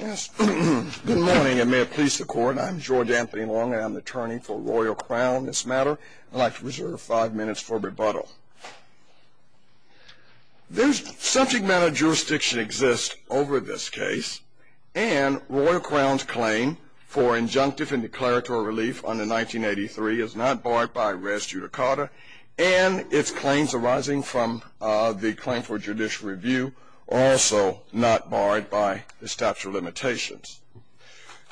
Good morning and may it please the court. I'm George Anthony Long and I'm the attorney for Royal Crown in this matter. I'd like to reserve five minutes for rebuttal. Subject matter jurisdiction exists over this case and Royal Crown's claim for injunctive and declaratory relief under 1983 is not barred by res judicata and its claims arising from the claim for judicial review are also not barred by the statute of limitations.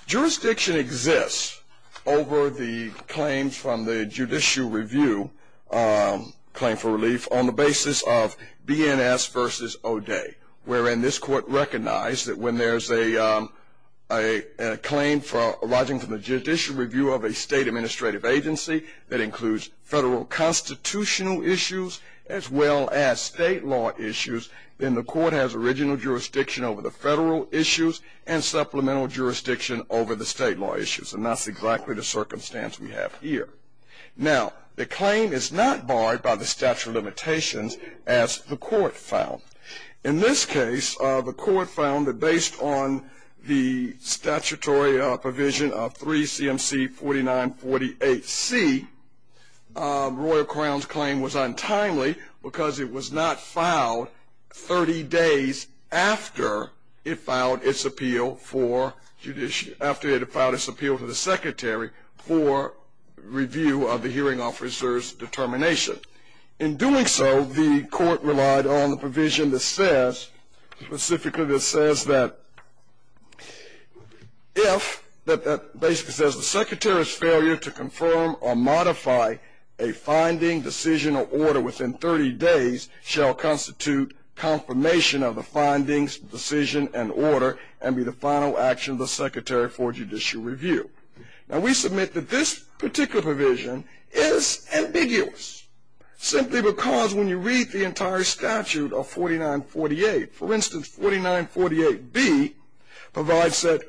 Jurisdiction exists over the claims from the judicial review claim for relief on the basis of BNS v. O'Day, wherein this court recognized that when there's a claim arising from the judicial review of a state administrative agency that includes federal constitutional issues as well as state law issues, then the court has original jurisdiction over the federal issues and supplemental jurisdiction over the state law issues. And that's exactly the circumstance we have here. Now, the claim is not barred by the statute of limitations as the court found. In this case, the court found that based on the statutory provision of 3 CMC 4948C, Royal Crown's claim was untimely because it was not filed 30 days after it filed its appeal to the secretary for review of the hearing officer's determination. In doing so, the court relied on the provision that says, specifically that says that if, that basically says the secretary's failure to confirm or modify a finding, decision, or order within 30 days shall constitute confirmation of the findings, decision, and order and be the final action of the secretary for judicial review. Now, we submit that this particular provision is ambiguous simply because when you read the entire statute of 4948, for instance, 4948B provides that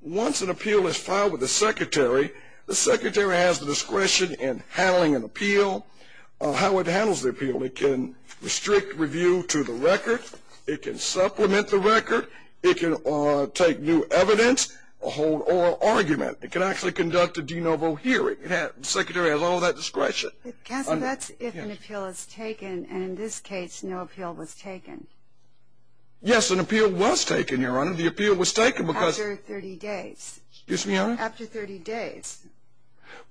once an appeal is filed with the secretary, the secretary has the discretion in handling an appeal, how it handles the appeal. It can restrict review to the record. It can supplement the record. It can take new evidence or hold oral argument. It can actually conduct a de novo hearing. The secretary has all that discretion. Counsel, that's if an appeal is taken, and in this case, no appeal was taken. Yes, an appeal was taken, Your Honor. The appeal was taken because After 30 days. Excuse me, Your Honor? After 30 days.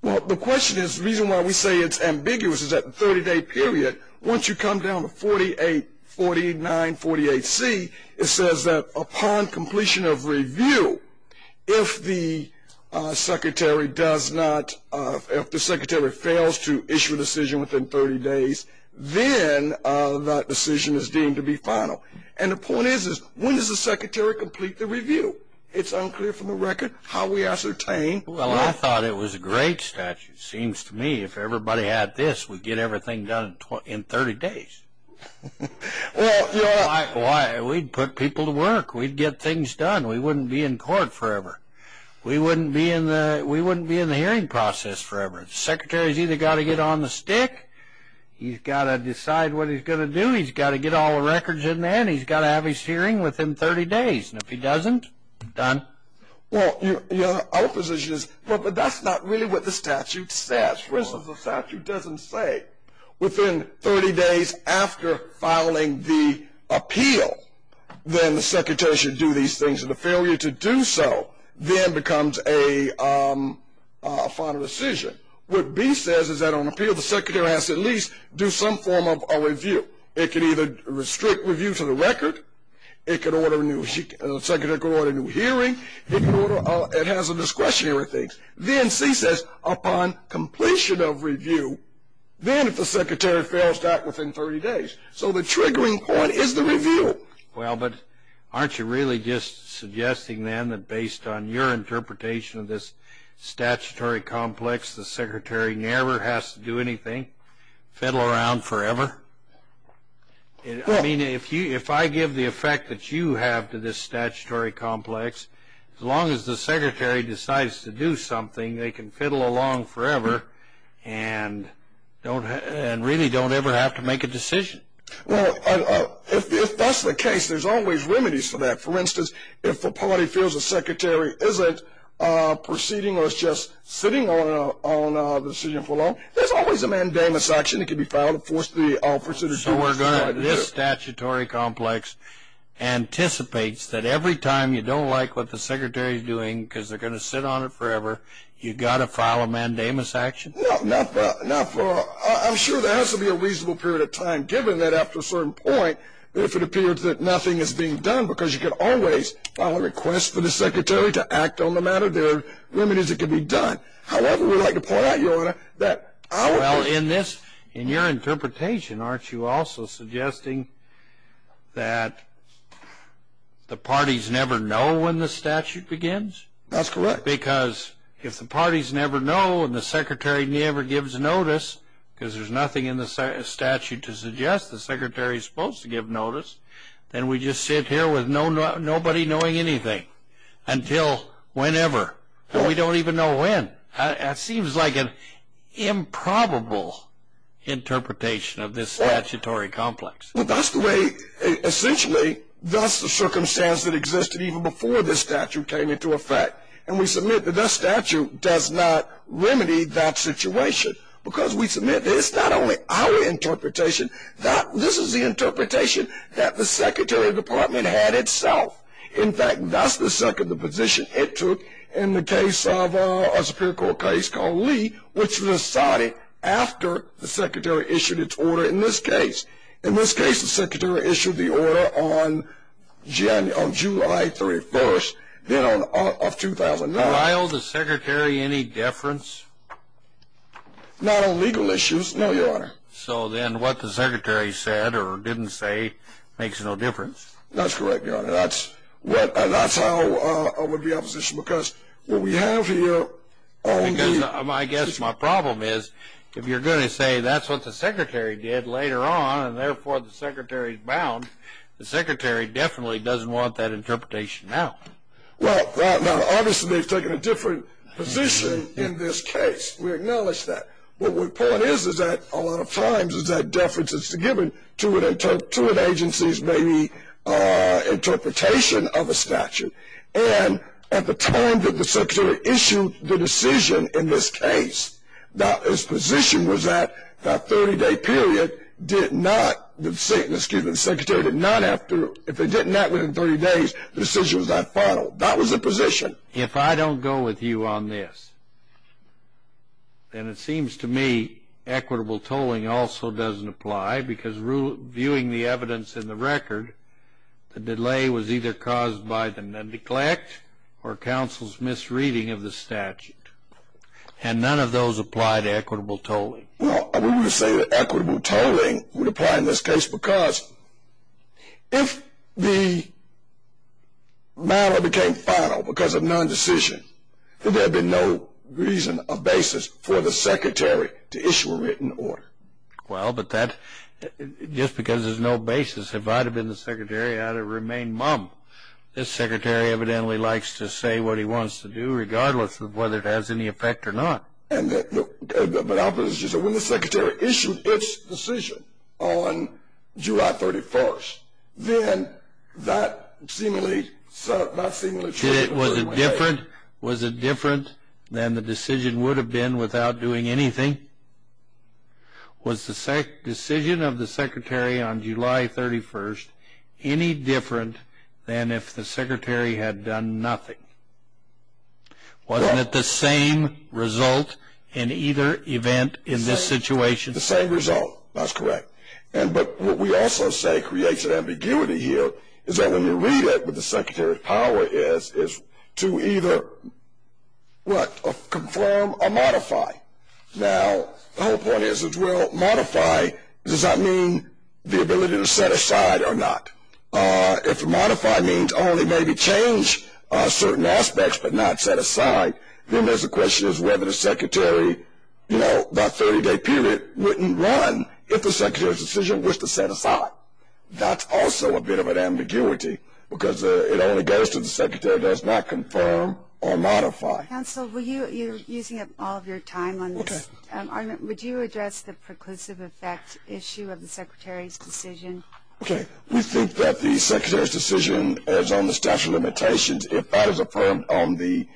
Well, the question is, the reason why we say it's ambiguous is that in a 30-day period, once you come down to 484948C, it says that upon completion of review, if the secretary does not, if the secretary fails to issue a decision within 30 days, then that decision is deemed to be final. And the point is, is when does the secretary complete the review? It's unclear from the record how we ascertain. Well, I thought it was a great statute. It seems to me if everybody had this, we'd get everything done in 30 days. Well, Your Honor. We'd put people to work. We'd get things done. We wouldn't be in court forever. We wouldn't be in the hearing process forever. The secretary's either got to get on the stick, he's got to decide what he's going to do, he's got to get all the records in there, and he's got to have his hearing within 30 days. And if he doesn't, done. Well, Your Honor, our position is, well, but that's not really what the statute says. For instance, the statute doesn't say within 30 days after filing the appeal, then the secretary should do these things. And the failure to do so then becomes a final decision. What B says is that on appeal, the secretary has to at least do some form of a review. It can either restrict review to the record. It can order a new hearing. It has a discretionary thing. Then C says upon completion of review, then if the secretary fails to act within 30 days. So the triggering point is the review. Well, but aren't you really just suggesting then that based on your interpretation of this statutory complex, the secretary never has to do anything, fiddle around forever? I mean, if I give the effect that you have to this statutory complex, as long as the secretary decides to do something, they can fiddle along forever and really don't ever have to make a decision. Well, if that's the case, there's always remedies for that. For instance, if the party feels the secretary isn't proceeding or is just sitting on a decision for long, there's always a mandamus action that can be filed So this statutory complex anticipates that every time you don't like what the secretary is doing because they're going to sit on it forever, you've got to file a mandamus action? I'm sure there has to be a reasonable period of time given that after a certain point, if it appears that nothing is being done because you can always file a request for the secretary to act on the matter, there are remedies that can be done. However, we'd like to point out, Your Honor, that our position is in your interpretation, aren't you also suggesting that the parties never know when the statute begins? That's correct. Because if the parties never know and the secretary never gives notice, because there's nothing in the statute to suggest the secretary is supposed to give notice, then we just sit here with nobody knowing anything until whenever. And we don't even know when. That seems like an improbable interpretation of this statutory complex. Well, that's the way, essentially, that's the circumstance that existed even before this statute came into effect. And we submit that the statute does not remedy that situation because we submit that it's not only our interpretation, this is the interpretation that the Secretary of the Department had itself. In fact, that's the second position it took in the case of a Superior Court case called Lee, which was decided after the secretary issued its order in this case. In this case, the secretary issued the order on July 31st of 2009. While the secretary any deference? Not on legal issues, no, Your Honor. So then what the secretary said or didn't say makes no difference? That's correct, Your Honor. That's how it would be oppositional, because what we have here on the- Because I guess my problem is if you're going to say that's what the secretary did later on and therefore the secretary's bound, the secretary definitely doesn't want that interpretation now. Well, now, obviously they've taken a different position in this case. We acknowledge that. What the point is, is that a lot of times is that deference is given to an agency's maybe interpretation of a statute. And at the time that the secretary issued the decision in this case, his position was that that 30-day period did not, excuse me, the secretary did not have to, if it didn't happen in 30 days, the decision was not final. That was the position. If I don't go with you on this, then it seems to me equitable tolling also doesn't apply, because viewing the evidence in the record, the delay was either caused by the neglect or counsel's misreading of the statute. And none of those apply to equitable tolling. Well, we would say that equitable tolling would apply in this case because if the matter became final, because of nondecision, there would be no reason or basis for the secretary to issue a written order. Well, but that, just because there's no basis, if I'd have been the secretary, I'd have remained mum. This secretary evidently likes to say what he wants to do, regardless of whether it has any effect or not. But I'll put it this way. When the secretary issued its decision on July 31st, then that seemingly showed that it was a way. Was it different than the decision would have been without doing anything? Was the decision of the secretary on July 31st any different than if the secretary had done nothing? Wasn't it the same result in either event in this situation? The same result. That's correct. But what we also say creates an ambiguity here is that when you read it, what the secretary's power is, is to either, what, confirm or modify. Now, the whole point is, well, modify, does that mean the ability to set aside or not? If modify means only maybe change certain aspects but not set aside, then there's a question as to whether the secretary, you know, that 30-day period wouldn't run if the secretary's decision was to set aside. That's also a bit of an ambiguity because it only goes to the secretary does not confirm or modify. Counsel, you're using up all of your time on this. Would you address the preclusive effect issue of the secretary's decision? Okay. We think that the secretary's decision is on the statute of limitations. If that is affirmed on the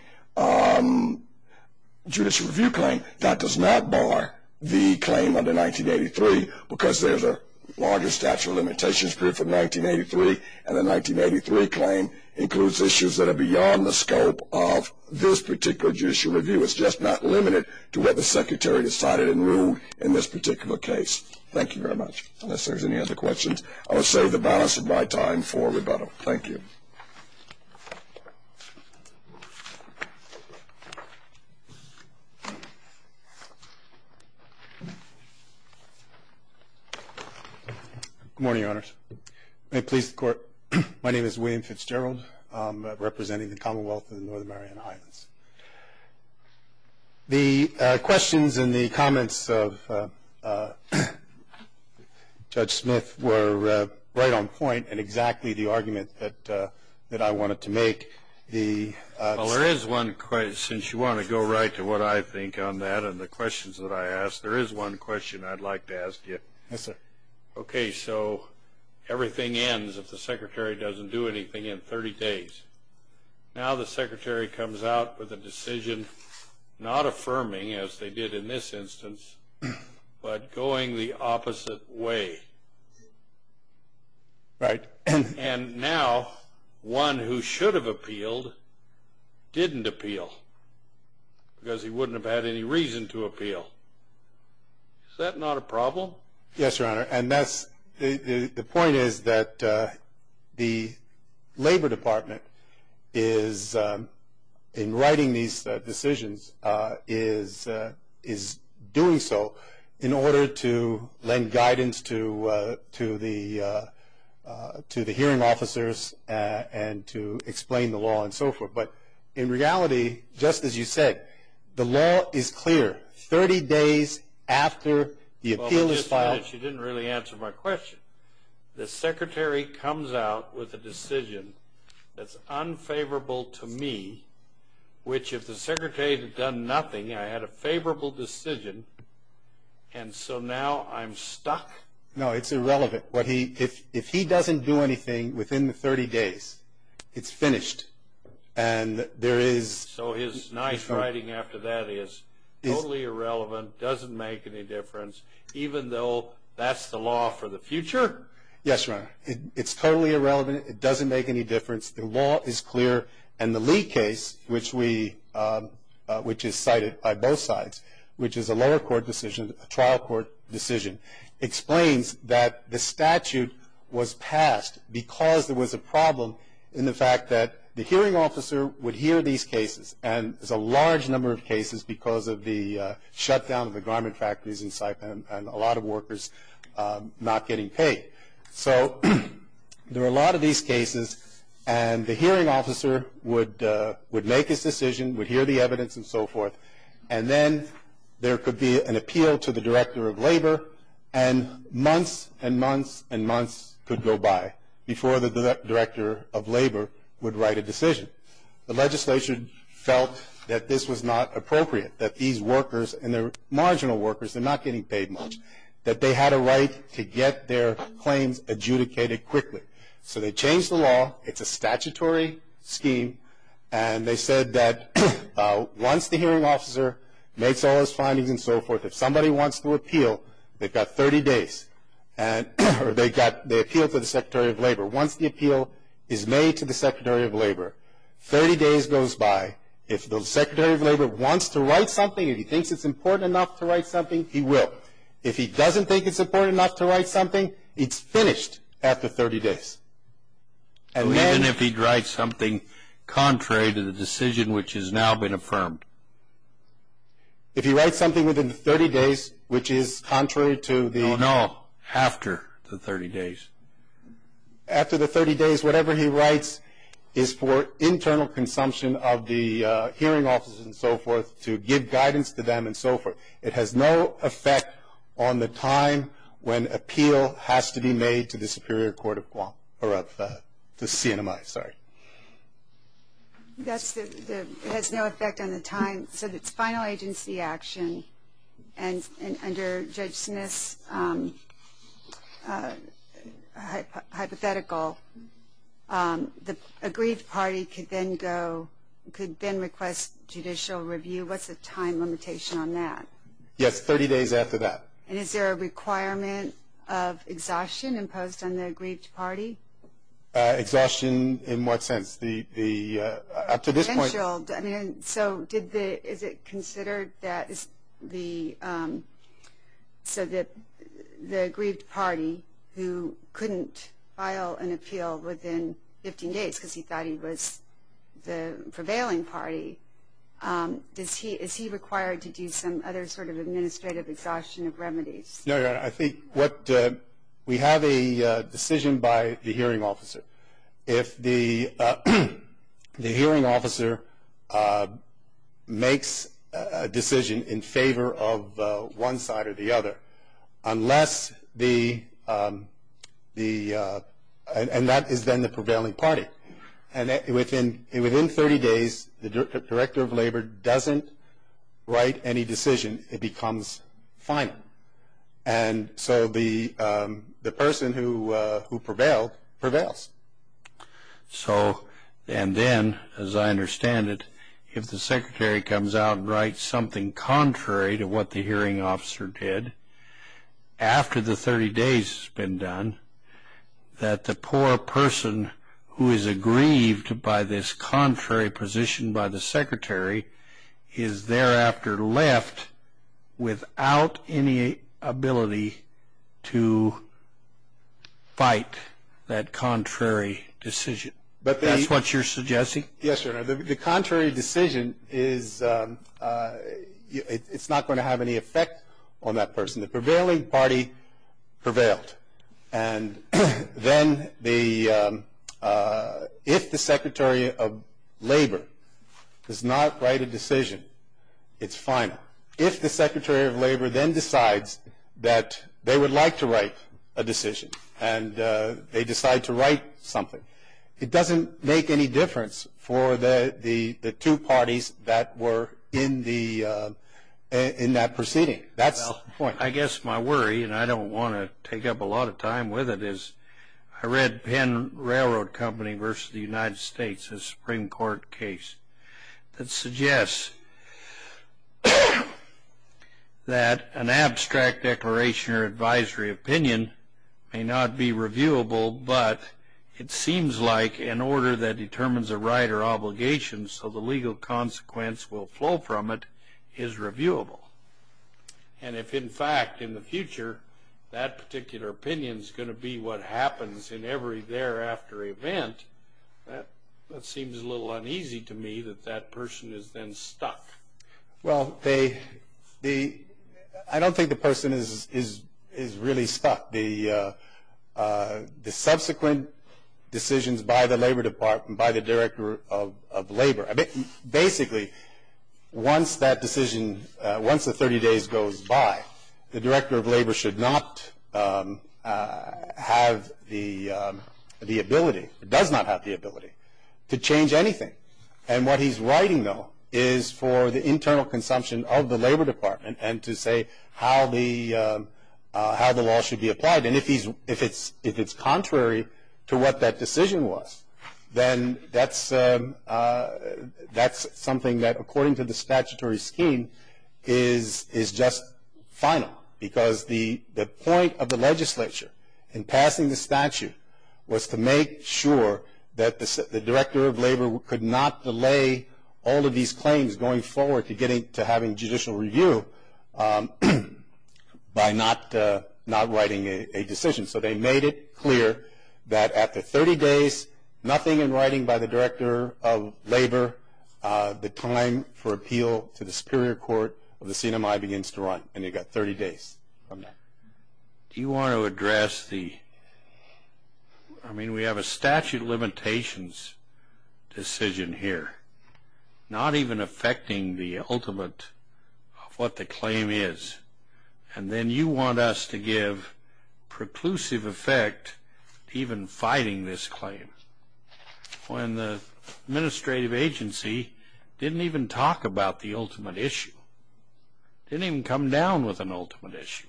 judicial review claim, that does not bar the claim under 1983 because there's a larger statute of limitations period from 1983, and the 1983 claim includes issues that are beyond the scope of this particular judicial review. It's just not limited to what the secretary decided and ruled in this particular case. Thank you very much. Unless there's any other questions, I will save the balance of my time for rebuttal. Thank you. Good morning, Your Honors. May it please the Court, my name is William Fitzgerald. I'm representing the Commonwealth of the North American Highlands. The questions and the comments of Judge Smith were right on point and exactly the argument that I wanted to make. Well, there is one, since you want to go right to what I think on that and the questions that I asked, there is one question I'd like to ask you. Yes, sir. Okay, so everything ends if the secretary doesn't do anything in 30 days. Now the secretary comes out with a decision not affirming, as they did in this instance, but going the opposite way. Right. And now one who should have appealed didn't appeal because he wouldn't have had any reason to appeal. Is that not a problem? Yes, Your Honor. The point is that the Labor Department is, in writing these decisions, is doing so in order to lend guidance to the hearing officers and to explain the law and so forth. But in reality, just as you said, the law is clear. 30 days after the appeal is filed. You didn't really answer my question. The secretary comes out with a decision that's unfavorable to me, which if the secretary had done nothing, I had a favorable decision, and so now I'm stuck? No, it's irrelevant. If he doesn't do anything within the 30 days, it's finished. So his nice writing after that is totally irrelevant, doesn't make any difference, even though that's the law for the future? Yes, Your Honor. It's totally irrelevant. It doesn't make any difference. The law is clear, and the Lee case, which is cited by both sides, which is a lower court decision, a trial court decision, explains that the statute was passed because there was a problem in the fact that the hearing officer would hear these cases, and there's a large number of cases because of the shutdown of the garment factories in Saipan and a lot of workers not getting paid. So there are a lot of these cases, and the hearing officer would make his decision, would hear the evidence and so forth, and then there could be an appeal to the director of labor, and months and months and months could go by before the director of labor would write a decision. The legislation felt that this was not appropriate, that these workers, and they're marginal workers, they're not getting paid much, that they had a right to get their claims adjudicated quickly. So they changed the law. It's a statutory scheme, and they said that once the hearing officer makes all his findings and so forth, if somebody wants to appeal, they've got 30 days, or they appeal to the secretary of labor. Once the appeal is made to the secretary of labor, 30 days goes by. If the secretary of labor wants to write something, if he thinks it's important enough to write something, he will. If he doesn't think it's important enough to write something, it's finished after 30 days. Even if he'd write something contrary to the decision which has now been affirmed? If he writes something within 30 days, which is contrary to the- No, no, after the 30 days. After the 30 days, whatever he writes is for internal consumption of the hearing offices and so forth, to give guidance to them and so forth. It has no effect on the time when appeal has to be made to the Superior Court of Guam, or of the CNMI, sorry. It has no effect on the time. So it's final agency action, and under Judge Smith's hypothetical, the aggrieved party could then request judicial review. What's the time limitation on that? Yes, 30 days after that. And is there a requirement of exhaustion imposed on the aggrieved party? Exhaustion in what sense? Potential. So is it considered that the aggrieved party who couldn't file an appeal within 15 days because he thought he was the prevailing party, is he required to do some other sort of administrative exhaustion of remedies? No, Your Honor, I think what we have a decision by the hearing officer. If the hearing officer makes a decision in favor of one side or the other, unless the- and that is then the prevailing party. And within 30 days, the Director of Labor doesn't write any decision. It becomes final. And so the person who prevailed prevails. So and then, as I understand it, if the Secretary comes out and writes something contrary to what the hearing officer did, after the 30 days has been done, that the poor person who is aggrieved by this contrary position by the Secretary is thereafter left without any ability to fight that contrary decision. That's what you're suggesting? Yes, Your Honor. The contrary decision is-it's not going to have any effect on that person. The prevailing party prevailed. And then if the Secretary of Labor does not write a decision, it's final. If the Secretary of Labor then decides that they would like to write a decision and they decide to write something, it doesn't make any difference for the two parties that were in that proceeding. That's the point. I guess my worry, and I don't want to take up a lot of time with it, is I read Penn Railroad Company v. The United States, a Supreme Court case, that suggests that an abstract declaration or advisory opinion may not be reviewable, but it seems like an order that determines a right or obligation so the legal consequence will flow from it is reviewable. And if, in fact, in the future, that particular opinion is going to be what happens in every thereafter event, that seems a little uneasy to me that that person is then stuck. Well, I don't think the person is really stuck. The subsequent decisions by the Labor Department, by the Director of Labor, basically once that decision, once the 30 days goes by, the Director of Labor should not have the ability, does not have the ability, to change anything. And what he's writing, though, is for the internal consumption of the Labor Department and to say how the law should be applied. And if it's contrary to what that decision was, then that's something that, according to the statutory scheme, is just final. Because the point of the legislature in passing the statute was to make sure that the Director of Labor could not delay all of these claims going forward to getting to having judicial review by not writing a decision. So they made it clear that after 30 days, nothing in writing by the Director of Labor, the time for appeal to the Superior Court of the CNMI begins to run, and you've got 30 days. Do you want to address the, I mean, we have a statute of limitations decision here, not even affecting the ultimate of what the claim is, and then you want us to give preclusive effect to even fighting this claim when the administrative agency didn't even talk about the ultimate issue, didn't even come down with an ultimate issue.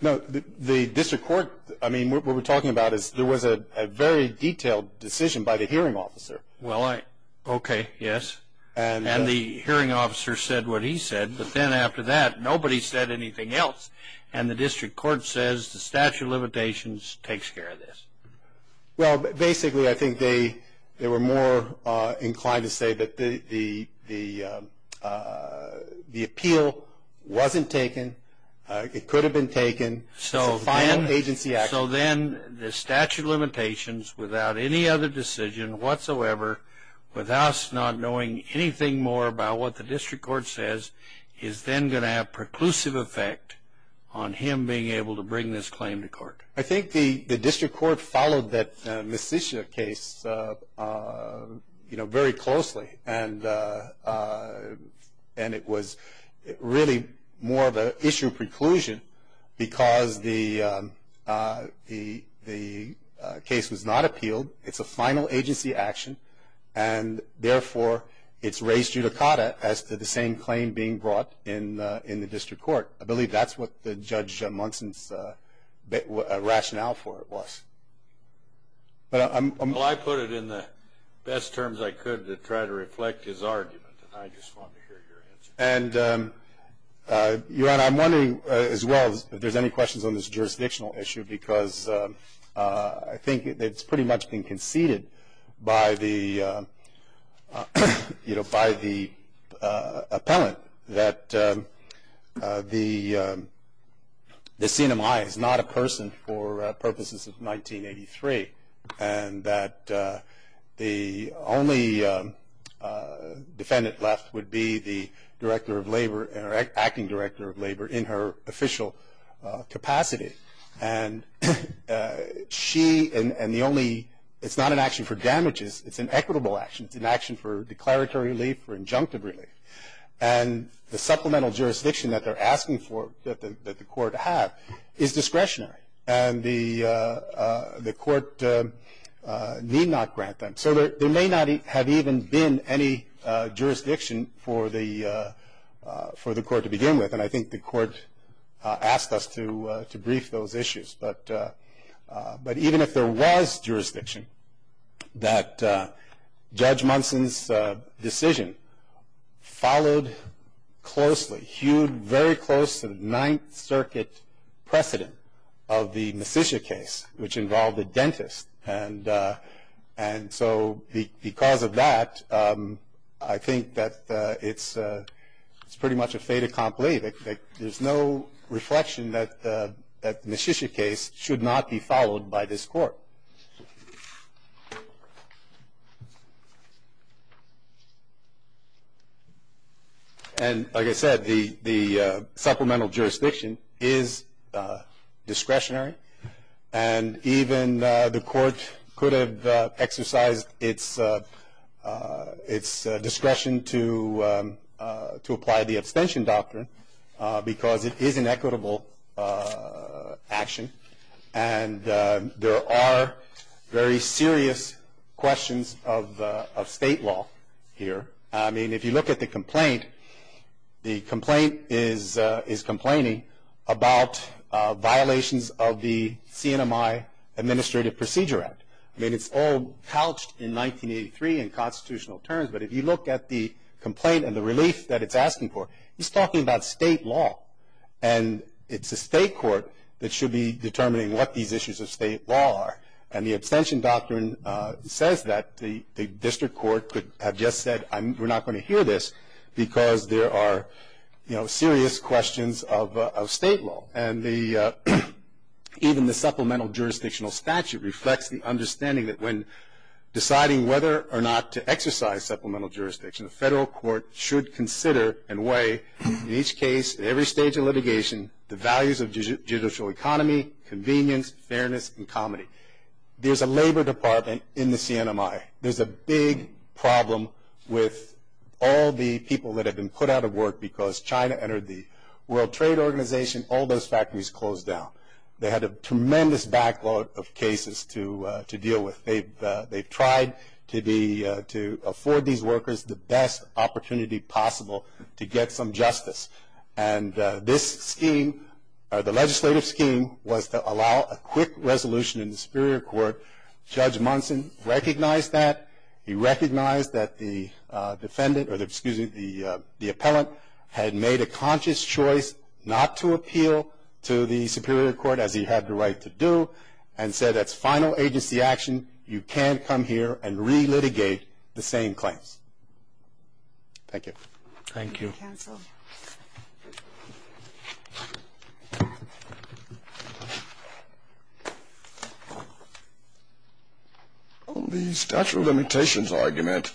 No, the district court, I mean, what we're talking about is there was a very detailed decision by the hearing officer. Well, okay, yes, and the hearing officer said what he said, but then after that nobody said anything else, and the district court says the statute of limitations takes care of this. Well, basically, I think they were more inclined to say that the appeal wasn't taken, it could have been taken, it's a final agency action. So then the statute of limitations, without any other decision whatsoever, without us not knowing anything more about what the district court says, is then going to have preclusive effect on him being able to bring this claim to court. I think the district court followed that Messitia case, you know, very closely, and it was really more of an issue preclusion because the case was not appealed, it's a final agency action, and therefore it's raised judicata as to the same claim being brought in the district court. I believe that's what Judge Munson's rationale for it was. Well, I put it in the best terms I could to try to reflect his argument, and I just wanted to hear your answer. And, Your Honor, I'm wondering as well if there's any questions on this jurisdictional issue because I think it's pretty much been conceded by the, you know, by the appellant that the CNMI is not a person for purposes of 1983, and that the only defendant left would be the director of labor, or acting director of labor in her official capacity. And she, and the only, it's not an action for damages, it's an equitable action, it's an action for declaratory relief or injunctive relief. And the supplemental jurisdiction that they're asking for, that the court had, is discretionary. And the court need not grant them. So there may not have even been any jurisdiction for the court to begin with, and I think the court asked us to brief those issues. But even if there was jurisdiction, that Judge Munson's decision followed closely, hewed very close to the Ninth Circuit precedent of the Messitia case, which involved a dentist. And so because of that, I think that it's pretty much a fait accompli. There's no reflection that the Messitia case should not be followed by this court. And like I said, the supplemental jurisdiction is discretionary, and even the court could have exercised its discretion to apply the abstention doctrine, because it is an equitable action. And there are very serious questions of state law here. I mean, if you look at the complaint, the complaint is complaining about violations of the CNMI Administrative Procedure Act. I mean, it's all couched in 1983 in constitutional terms, but if you look at the complaint and the relief that it's asking for, it's talking about state law. And it's a state court that should be determining what these issues of state law are. And the abstention doctrine says that the district court could have just said, we're not going to hear this because there are, you know, serious questions of state law. And even the supplemental jurisdictional statute reflects the understanding that when deciding whether or not to exercise supplemental jurisdiction, the federal court should consider and weigh, in each case, at every stage of litigation, the values of judicial economy, convenience, fairness, and comedy. There's a labor department in the CNMI. There's a big problem with all the people that have been put out of work because China entered the World Trade Organization, all those factories closed down. They had a tremendous backlog of cases to deal with. They've tried to afford these workers the best opportunity possible to get some justice. And this scheme, the legislative scheme, was to allow a quick resolution in the Superior Court. Judge Munson recognized that. He recognized that the defendant, or excuse me, the appellant, had made a conscious choice not to appeal to the Superior Court, as he had the right to do, and said that's final agency action. You can't come here and re-litigate the same claims. Thank you. Thank you. Thank you, counsel. On the statute of limitations argument,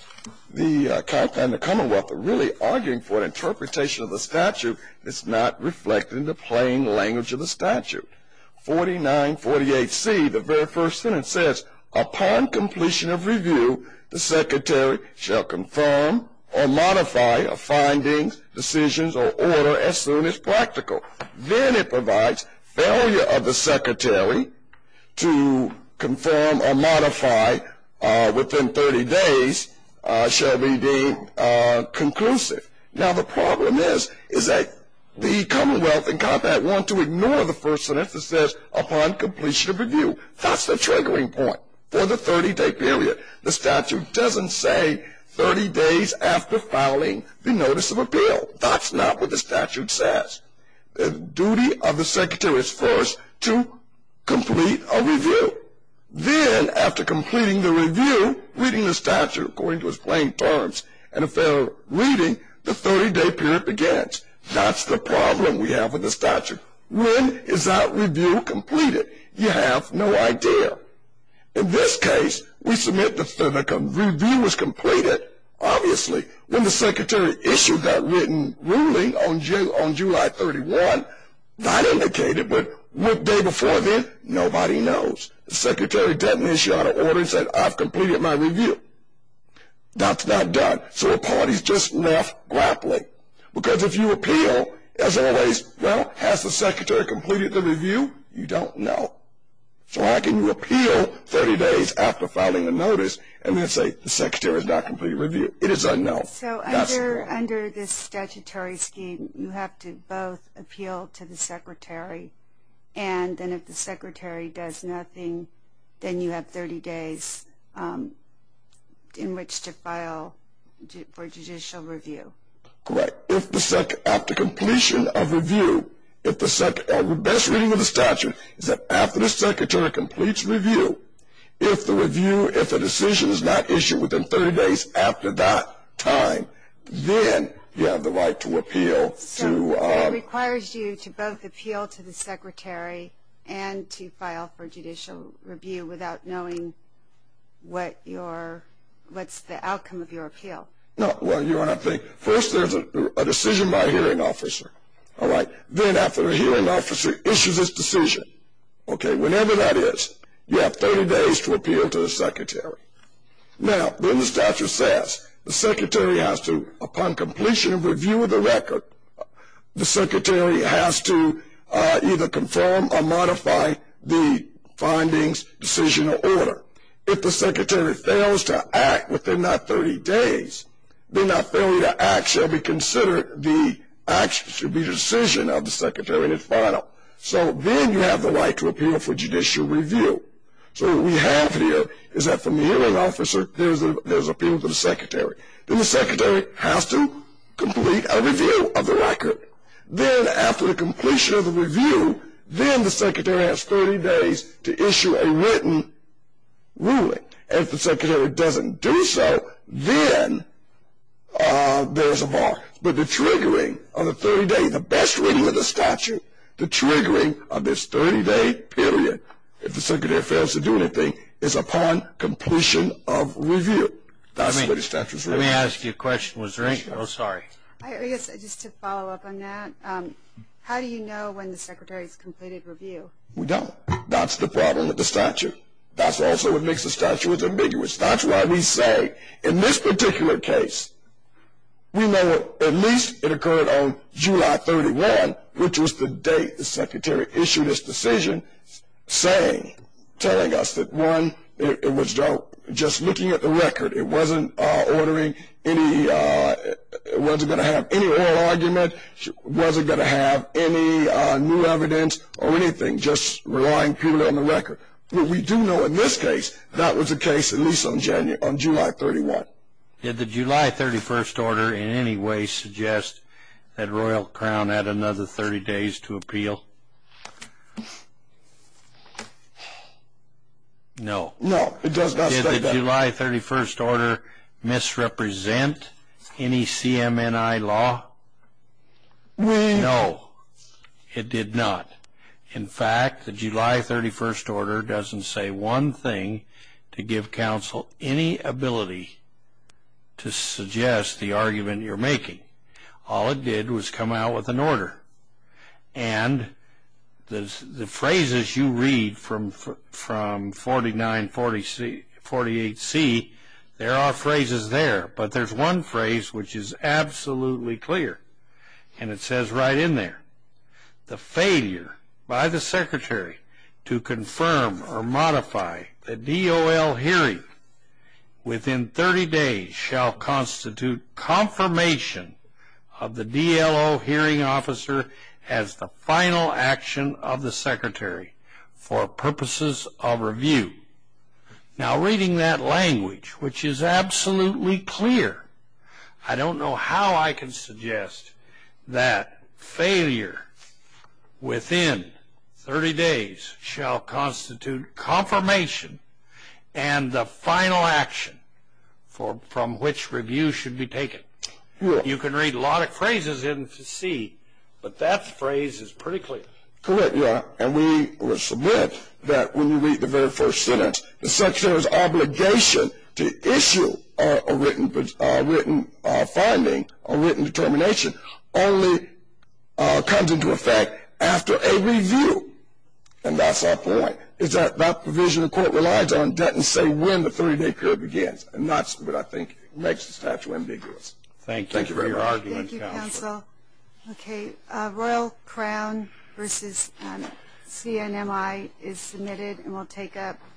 the County and the Commonwealth are really arguing for an interpretation of the statute that's not reflected in the plain language of the statute. 4948C, the very first sentence says, Upon completion of review, the secretary shall confirm or modify a finding, decisions, or order as soon as practical. Then it provides failure of the secretary to confirm or modify within 30 days shall be deemed conclusive. Now, the problem is that the Commonwealth and Compact want to ignore the first sentence that says, That's the triggering point for the 30-day period. The statute doesn't say 30 days after filing the notice of appeal. That's not what the statute says. The duty of the secretary is first to complete a review. Then, after completing the review, reading the statute according to its plain terms, and a fair reading, the 30-day period begins. That's the problem we have with the statute. When is that review completed? You have no idea. In this case, we submit the finicum. Review was completed, obviously, when the secretary issued that written ruling on July 31. Not indicated, but what day before then? Nobody knows. The secretary didn't issue out an order and said, I've completed my review. That's not done. So a party's just left grappling. Because if you appeal, as always, well, has the secretary completed the review? You don't know. So how can you appeal 30 days after filing a notice and then say, The secretary has not completed the review? It is unknown. So under this statutory scheme, you have to both appeal to the secretary, and then if the secretary does nothing, then you have 30 days in which to file for judicial review. Correct. After completion of review, the best reading of the statute is that after the secretary completes review, if the decision is not issued within 30 days after that time, then you have the right to appeal. So it requires you to both appeal to the secretary and to file for judicial review without knowing what's the outcome of your appeal. Well, you want to think, first there's a decision by a hearing officer. All right. Then after the hearing officer issues its decision, okay, whenever that is, you have 30 days to appeal to the secretary. Now, then the statute says the secretary has to, upon completion of review of the record, the secretary has to either confirm or modify the findings, decision, or order. If the secretary fails to act within that 30 days, then that failure to act shall be considered the decision of the secretary to file. So then you have the right to appeal for judicial review. So what we have here is that from the hearing officer there's appeal to the secretary. Then the secretary has to complete a review of the record. Then after the completion of the review, then the secretary has 30 days to issue a written ruling. If the secretary doesn't do so, then there's a bar. But the triggering of the 30-day, the best reading of the statute, the triggering of this 30-day period, if the secretary fails to do anything, is upon completion of review. That's the way the statute is written. Let me ask you a question. Oh, sorry. Just to follow up on that, how do you know when the secretary has completed review? We don't. That's the problem with the statute. That's also what makes the statute ambiguous. That's why we say in this particular case, we know at least it occurred on July 31, which was the date the secretary issued his decision, saying, telling us that, one, it was just looking at the record. It wasn't going to have any oral argument. It wasn't going to have any new evidence or anything, just relying purely on the record. But we do know in this case that was the case at least on July 31. Did the July 31 order in any way suggest that Royal Crown had another 30 days to appeal? No. No, it does not say that. Did the July 31 order misrepresent any CMNI law? No, it did not. In fact, the July 31 order doesn't say one thing to give counsel any ability to suggest the argument you're making. All it did was come out with an order. And the phrases you read from 4948C, there are phrases there. But there's one phrase which is absolutely clear, and it says right in there, the failure by the secretary to confirm or modify the DOL hearing within 30 days shall constitute confirmation of the DLO hearing officer as the final action of the secretary for purposes of review. Now, reading that language, which is absolutely clear, I don't know how I can suggest that failure within 30 days shall constitute confirmation and the final action from which review should be taken. You can read a lot of phrases in C, but that phrase is pretty clear. Correct, Your Honor. And we will submit that when you read the very first sentence, the secretary's obligation to issue a written finding or written determination only comes into effect after a review. And that's our point. It's that that provision the court relies on doesn't say when the 30-day period begins. And that's what I think makes the statute ambiguous. Thank you for your argument, counsel. Thank you, counsel. Okay. Royal Crown v. CNMI is submitted and will take up.